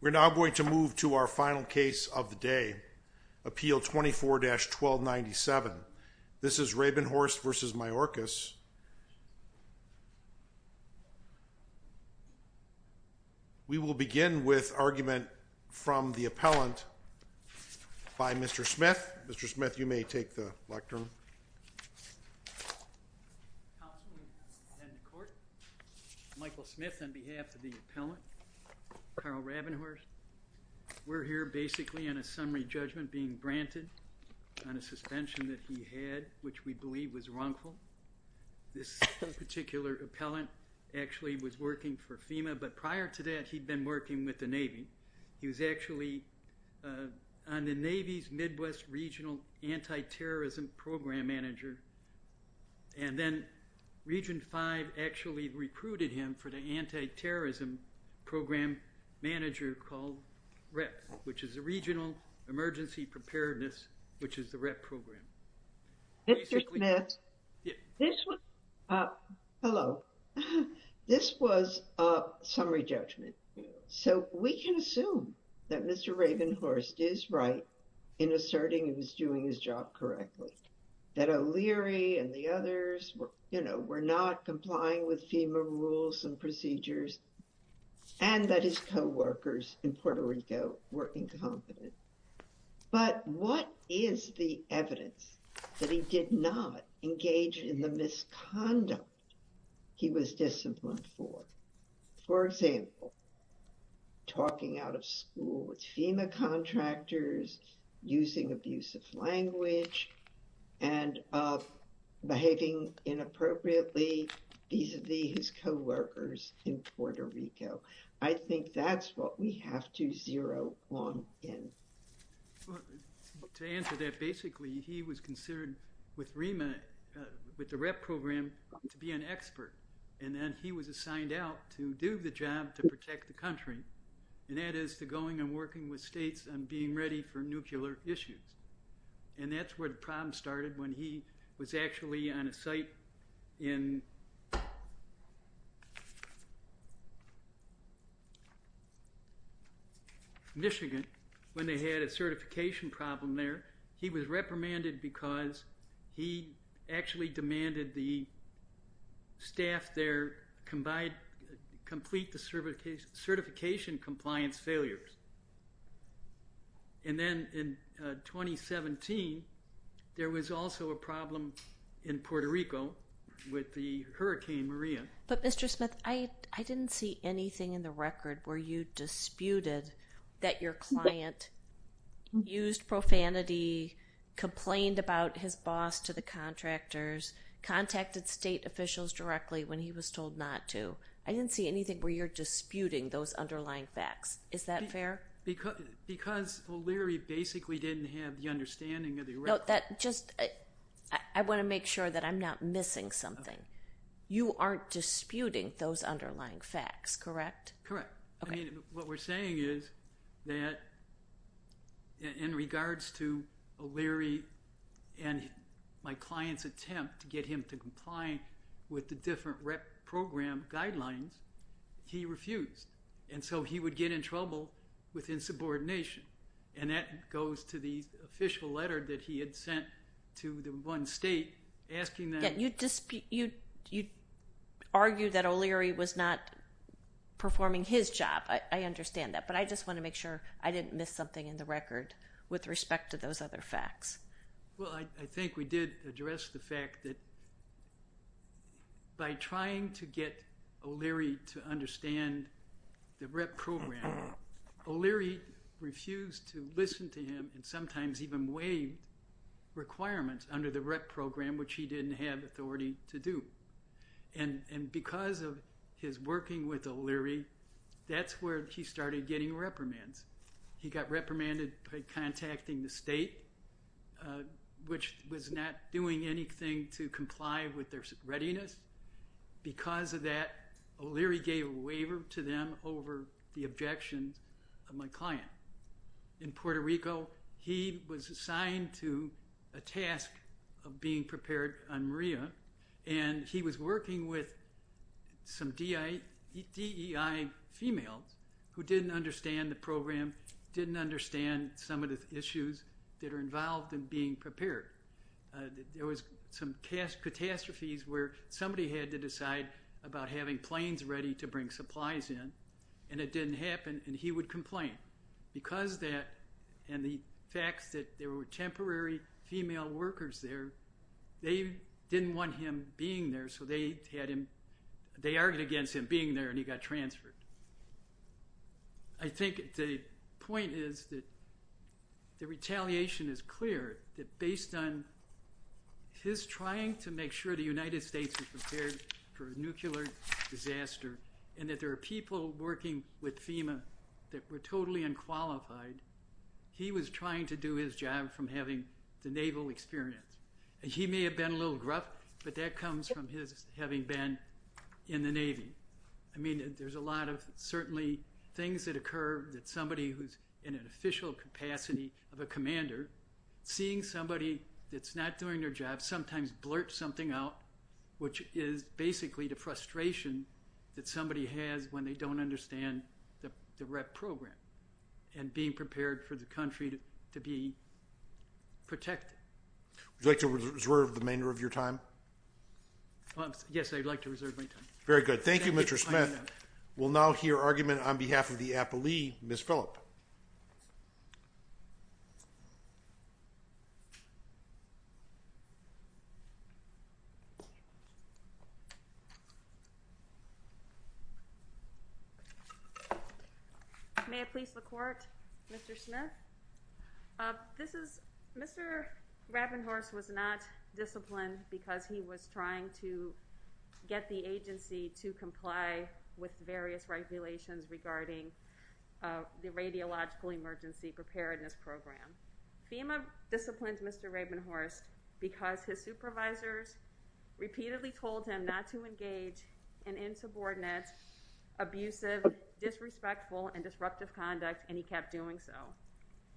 We're now going to move to our final case of the day, Appeal 24-1297. This is Rabenhorst v. Mayorkas. We will begin with argument from the appellant by Mr. Smith. Mr. Smith, you may take the lectern. Michael Smith on behalf of the appellant, Carl Rabenhorst. We're here basically on a summary judgment being granted on a suspension that he had, which we believe was wrongful. This particular appellant actually was working for FEMA, but prior to that he'd been working with the Navy. He was actually on the Navy's Midwest Regional Anti-Terrorism Program Manager, and then Region 5 actually recruited him for the Anti-Terrorism Program Manager called REP, which is the Regional Emergency Preparedness, which is the REP program. Mr. Smith, hello. This was a summary judgment, so we can assume that Mr. Rabenhorst is right in asserting he was doing his job correctly, that O'Leary and the others were not complying with FEMA rules and procedures, and that his co-workers in Puerto Rico were incompetent. But what is the evidence that he did not engage in the misconduct he was disciplined for? For example, talking out of school with FEMA contractors, using abusive language, and behaving inappropriately vis-a-vis his co-workers in Puerto Rico. I think that's what we have to zero on in. Well, to answer that, basically he was considered with REMA, with the REP program, to be an expert, and then he was assigned out to do the job to protect the country, and that is to going and working with states and being ready for nuclear issues. And that's where the problem started, when he was actually on a site in Michigan, when they had a certification problem there, he was reprimanded because he actually demanded the staff there complete the certification compliance failures. And then in 2017, there was also a problem in Puerto Rico with the Hurricane Maria. But Mr. Smith, I didn't see anything in the record where you disputed that your client used profanity, complained about his boss to the contractors, contacted state officials directly when he was told not to. I didn't see anything where you're disputing those underlying facts. Is that fair? Because O'Leary basically didn't have the understanding of the record. No, that just, I want to make sure that I'm not missing something. You aren't disputing those underlying facts, correct? Correct. I mean, what we're saying is that in regards to O'Leary and my client's attempt to get him to comply with the different rep program guidelines, he refused. And so he would get in trouble with insubordination. And that goes to the official letter that he had sent to the one state asking them. Yeah, you argued that O'Leary was not performing his job. I understand that. But I just want to make sure I didn't miss something in the record with respect to those other facts. Well, I think we did address the fact that by trying to get O'Leary to understand the rep program, O'Leary refused to listen to him and sometimes even waived requirements under the rep program, which he didn't have authority to do. And because of his working with O'Leary, that's where he started getting reprimands. He got reprimanded by contacting the state, which was not doing anything to comply with their readiness. Because of that, O'Leary gave a waiver to them over the objections of my client. In Puerto Rico, he was assigned to a task of being prepared on Maria. And he was working with some DEI females who didn't understand the program, didn't understand some of the issues that are involved in being prepared. There was some catastrophes where somebody had to decide about having planes ready to bring supplies in. And it didn't happen. And he would complain. Because of that and the fact that there were temporary female workers there, they didn't want him being there. So they argued against him being there and he got transferred. I think the point is that the retaliation is clear, that based on his trying to make sure the United States is prepared for a nuclear disaster and that there are people working with FEMA that were totally unqualified, he was trying to do his job from having the naval experience. And he may have been a little gruff, but that comes from his having been in the Navy. I mean, there's a lot of certainly things that occur that somebody who's in an official capacity of a commander, seeing somebody that's not doing their job sometimes blurt something out, which is basically the frustration that somebody has when they don't understand the REP program and being prepared for the country to be protected. Would you like to reserve the remainder of your time? Yes, I'd like to reserve my time. Very good. Thank you, Mr. Smith. We'll now hear argument on behalf of the appellee, Ms. Phillip. May it please the Court, Mr. Smith. Mr. Rabenhorst was not disciplined because he was trying to get the agency to comply with various regulations regarding the Radiological Emergency Preparedness Program. FEMA disciplined Mr. Rabenhorst because his supervisors repeatedly told him not to engage in insubordinate, abusive, disrespectful, and disruptive conduct, and he kept doing so.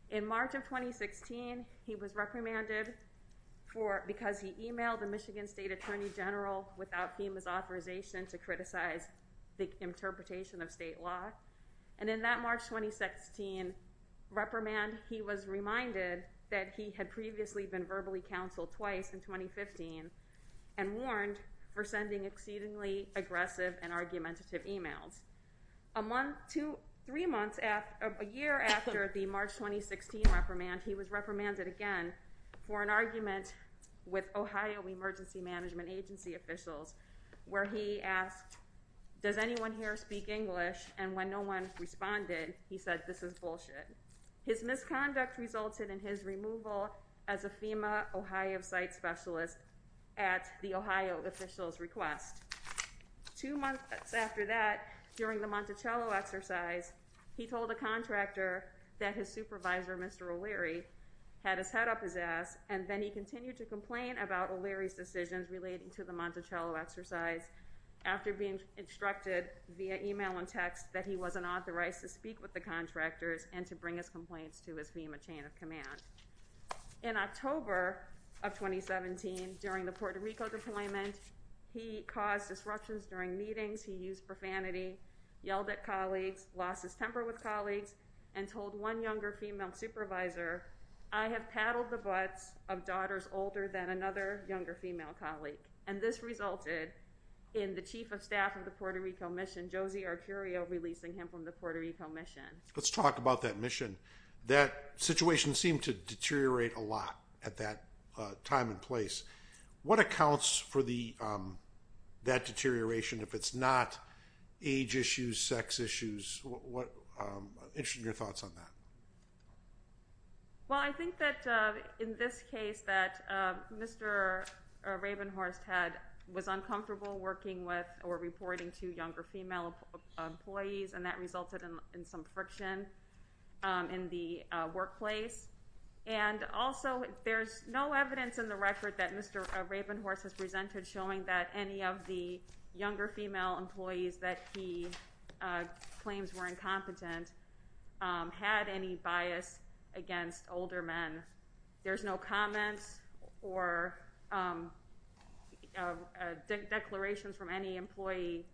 In March of 2016, he was reprimanded because he emailed the Michigan State Attorney General without FEMA's authorization to criticize the interpretation of state law. And in that March 2016 reprimand, he was reminded that he had previously been verbally counseled twice in 2015 and warned for sending exceedingly aggressive and argumentative emails. A year after the March 2016 reprimand, he was reprimanded again for an argument with Ohio Emergency Management Agency officials where he asked, does anyone here speak English? And when no one responded, he said, this is bullshit. His misconduct resulted in his removal as a FEMA Ohio site specialist at the Ohio official's request. Two months after that, during the Monticello exercise, he told a contractor that his supervisor, Mr. O'Leary, had his head up his ass, and then he continued to complain about O'Leary's decisions relating to the Monticello exercise after being instructed via email and text that he wasn't authorized to speak with the contractors and to bring his complaints to his FEMA chain of command. In October of 2017, during the Puerto Rico deployment, he caused disruptions during meetings. He used profanity, yelled at colleagues, lost his temper with colleagues, and told one younger female supervisor, I have paddled the butts of daughters older than another younger female colleague. And this resulted in the chief of staff of the Puerto Rico mission, Josie Arcurio, releasing him from the Puerto Rico mission. Let's talk about that mission. That situation seemed to deteriorate a lot at that time and place. What accounts for that deterioration if it's not age issues, sex issues? I'm interested in your thoughts on that. Well, I think that in this case that Mr. Ravenhorst was uncomfortable working with or reporting to younger female employees, and that resulted in some friction in the workplace. And also, there's no evidence in the record that Mr. Ravenhorst has presented showing that any of the younger female employees that he claims were incompetent had any bias against older men. There's no comments or declarations from any employee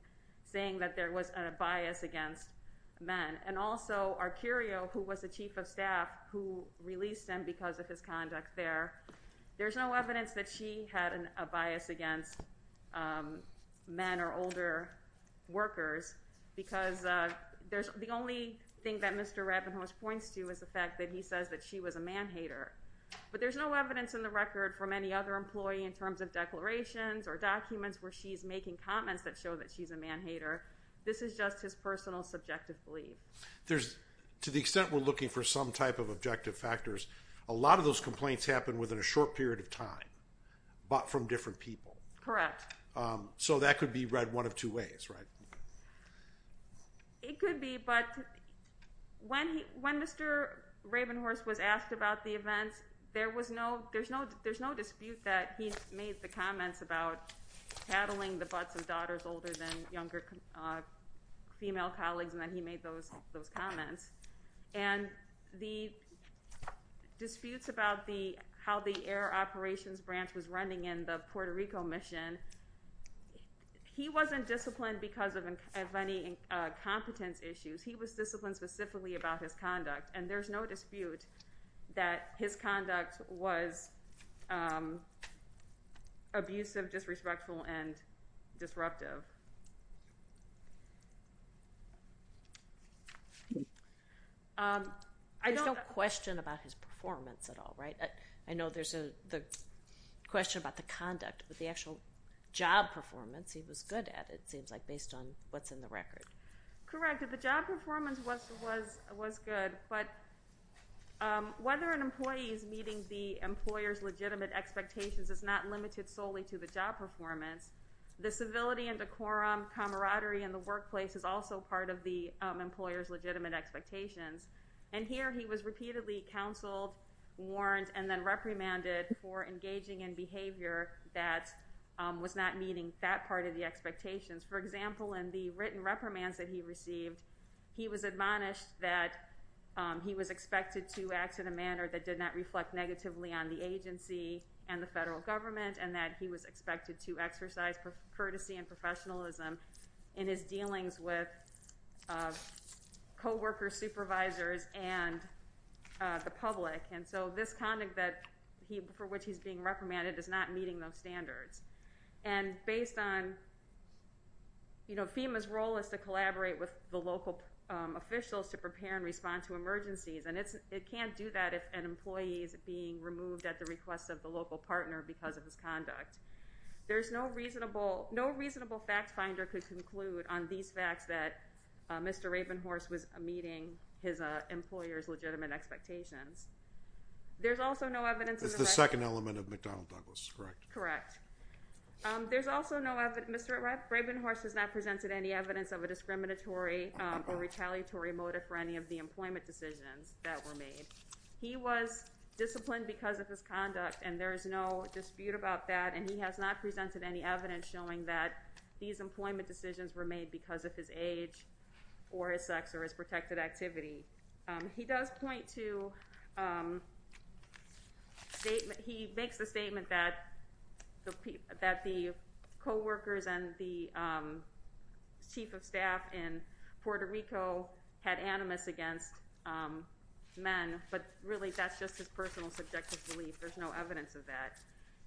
saying that there was a bias against men. And also, Arcurio, who was the chief of staff, who released him because of his conduct there, there's no evidence that she had a bias against men or older workers. Because the only thing that Mr. Ravenhorst points to is the fact that he says that she was a man-hater. But there's no evidence in the record from any other employee in terms of declarations or documents where she's making comments that show that she's a man-hater. This is just his personal subjective belief. To the extent we're looking for some type of objective factors, a lot of those complaints happen within a short period of time, but from different people. Correct. So that could be read one of two ways, right? It could be, but when Mr. Ravenhorst was asked about the events, there's no dispute that he made the comments about paddling the butts of daughters older than younger female colleagues and that he made those comments. And the disputes about how the air operations branch was running in the Puerto Rico mission, he wasn't disciplined because of any competence issues. He was disciplined specifically about his conduct. And there's no dispute that his conduct was abusive, disrespectful, and disruptive. There's no question about his performance at all, right? I know there's a question about the conduct, but the actual job performance he was good at, it seems like, based on what's in the record. Correct. The job performance was good, but whether an employee is meeting the employer's legitimate expectations is not limited solely to the job performance. The civility and decorum, camaraderie in the workplace is also part of the employer's legitimate expectations. And here he was repeatedly counseled, warned, and then reprimanded for engaging in behavior that was not meeting that part of the expectations. For example, in the written reprimands that he received, he was admonished that he was expected to act in a manner that did not reflect negatively on the agency and the federal government, and that he was expected to exercise courtesy and professionalism in his dealings with co-workers, supervisors, and the public. And so this conduct for which he's being reprimanded is not meeting those standards. And based on, you know, FEMA's role is to collaborate with the local officials to prepare and respond to emergencies, and it can't do that if an employee is being removed at the request of the local partner because of his conduct. There's no reasonable fact finder could conclude on these facts that Mr. Ravenhorse was meeting his employer's legitimate expectations. There's the second element of McDonnell Douglas, correct? Correct. Mr. Ravenhorse has not presented any evidence of a discriminatory or retaliatory motive for any of the employment decisions that were made. He was disciplined because of his conduct, and there is no dispute about that, and he has not presented any evidence showing that these employment decisions were made because of his age or his sex or his protected activity. He does point to, he makes the statement that the co-workers and the chief of staff in Puerto Rico had animus against men, but really that's just his personal subjective belief. There's no evidence of that.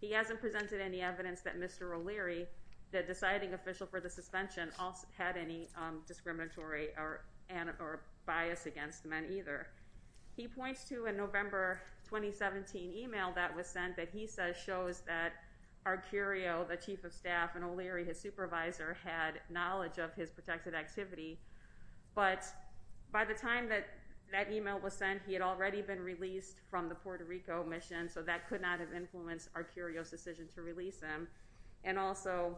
He hasn't presented any evidence that Mr. O'Leary, the deciding official for the suspension, also had any discriminatory or bias against men either. He points to a November 2017 email that was sent that he says shows that Arcurio, the chief of staff, and O'Leary, his supervisor, had knowledge of his protected activity, but by the time that that email was sent, he had already been released from the Puerto Rico mission, so that could not have influenced Arcurio's decision to release him, and also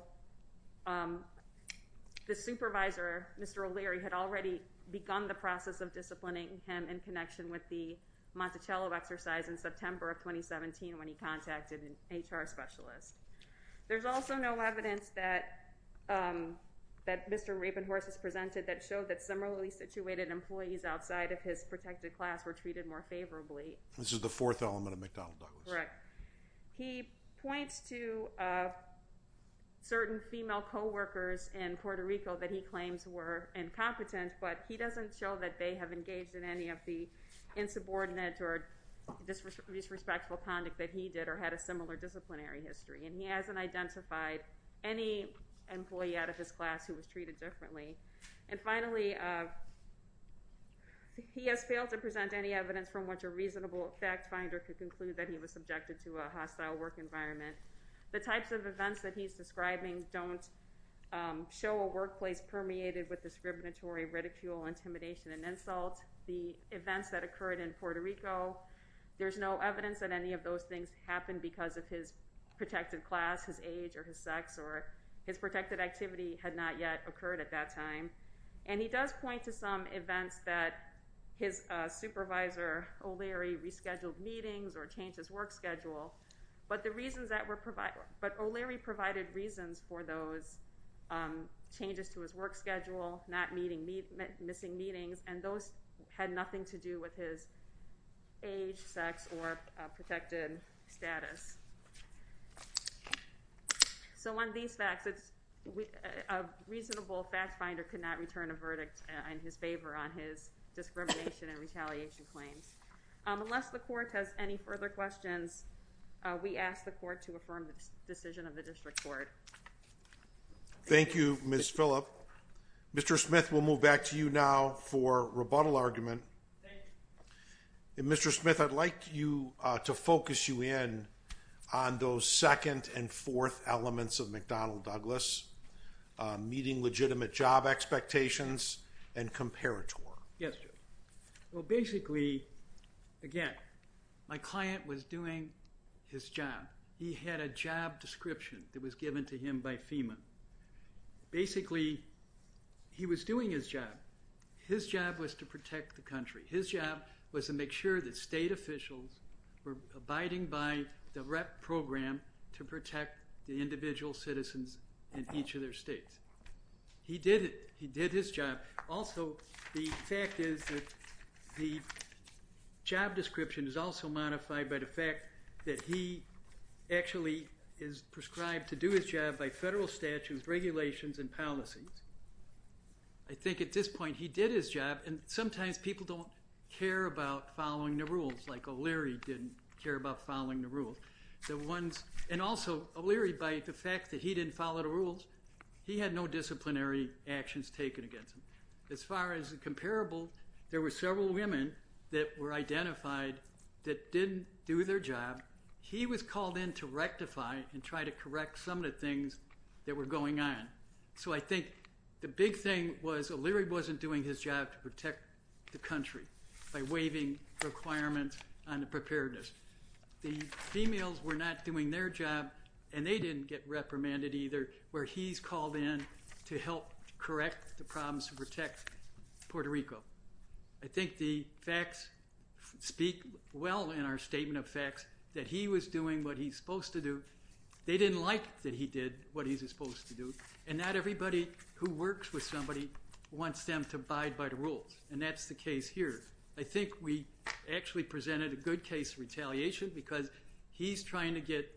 the supervisor, Mr. O'Leary, had already begun the process of disciplining him in connection with the Monticello exercise in September of 2017 when he contacted an HR specialist. There's also no evidence that Mr. Rabinhorst has presented that showed that similarly situated employees outside of his protected class were treated more favorably. This is the fourth element of McDonnell Douglas. Right. He points to certain female co-workers in Puerto Rico that he claims were incompetent, but he doesn't show that they have engaged in any of the insubordinate or disrespectful conduct that he did or had a similar disciplinary history, and he hasn't identified any employee out of his class who was treated differently. And finally, he has failed to present any evidence from which a reasonable fact finder could conclude that he was subjected to a hostile work environment. The types of events that he's describing don't show a workplace permeated with discriminatory ridicule, intimidation, and insult. The events that occurred in Puerto Rico, there's no evidence that any of those things happened because of his protected class, his age, or his sex, or his protected activity had not yet occurred at that time. And he does point to some events that his supervisor O'Leary rescheduled meetings or changed his work schedule, but O'Leary provided reasons for those changes to his work schedule, not missing meetings, and those had nothing to do with his age, sex, or protected status. So on these facts, a reasonable fact finder could not return a verdict in his favor on his discrimination and retaliation claims. Unless the court has any further questions, we ask the court to affirm the decision of the district court. Thank you, Ms. Phillip. Mr. Smith, we'll move back to you now for rebuttal argument. Mr. Smith, I'd like to focus you in on those second and fourth elements of McDonnell-Douglas, meeting legitimate job expectations, and comparator. Yes, Joe. Well, basically, again, my client was doing his job. He had a job description that was to him by FEMA. Basically, he was doing his job. His job was to protect the country. His job was to make sure that state officials were abiding by the REP program to protect the individual citizens in each of their states. He did it. He did his job. Also, the fact is that the job description is also modified by the fact that he actually is prescribed to do his job by federal statutes, regulations, and policies. I think at this point, he did his job, and sometimes people don't care about following the rules, like O'Leary didn't care about following the rules. And also, O'Leary, by the fact that he didn't follow the rules, he had no disciplinary actions taken against him. As far as the comparable, there were several women that were identified that didn't do their job. He was called in to rectify and try to correct some of the things that were going on. So I think the big thing was O'Leary wasn't doing his job to protect the country by waiving requirements on the preparedness. The females were not doing their job, and they didn't get reprimanded either, where he's called in to help correct the problems to protect Puerto Rico. I think the facts speak well in our statement of facts that he was doing what he's supposed to do. They didn't like that he did what he's supposed to do, and not everybody who works with somebody wants them to abide by the rules, and that's the case here. I think we actually presented a good case of retaliation because he's trying to get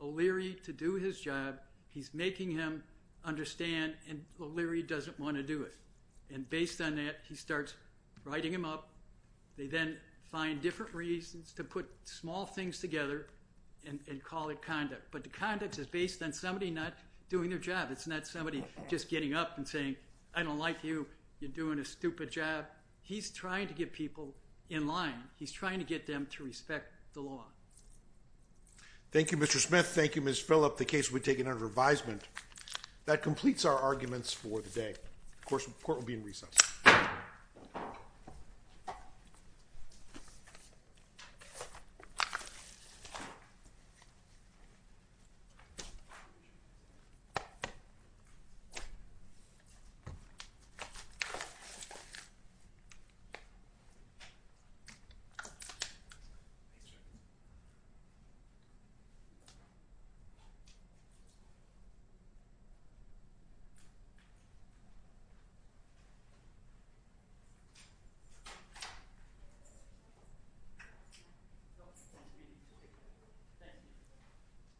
O'Leary to do his job. He's making him understand, and O'Leary doesn't want to do it. And based on that, he starts writing him up. They then find different reasons to put small things together and call it conduct. But the conduct is based on somebody not doing their job. It's not somebody just getting up and saying, I don't like you. You're doing a stupid job. He's trying to get people in line. He's trying to get them to respect the law. Thank you, Mr. Smith. Thank you, Ms. Phillip. The case will be taken under advisement. That completes our arguments for the day. Of course, the court will be in recess. Thank you.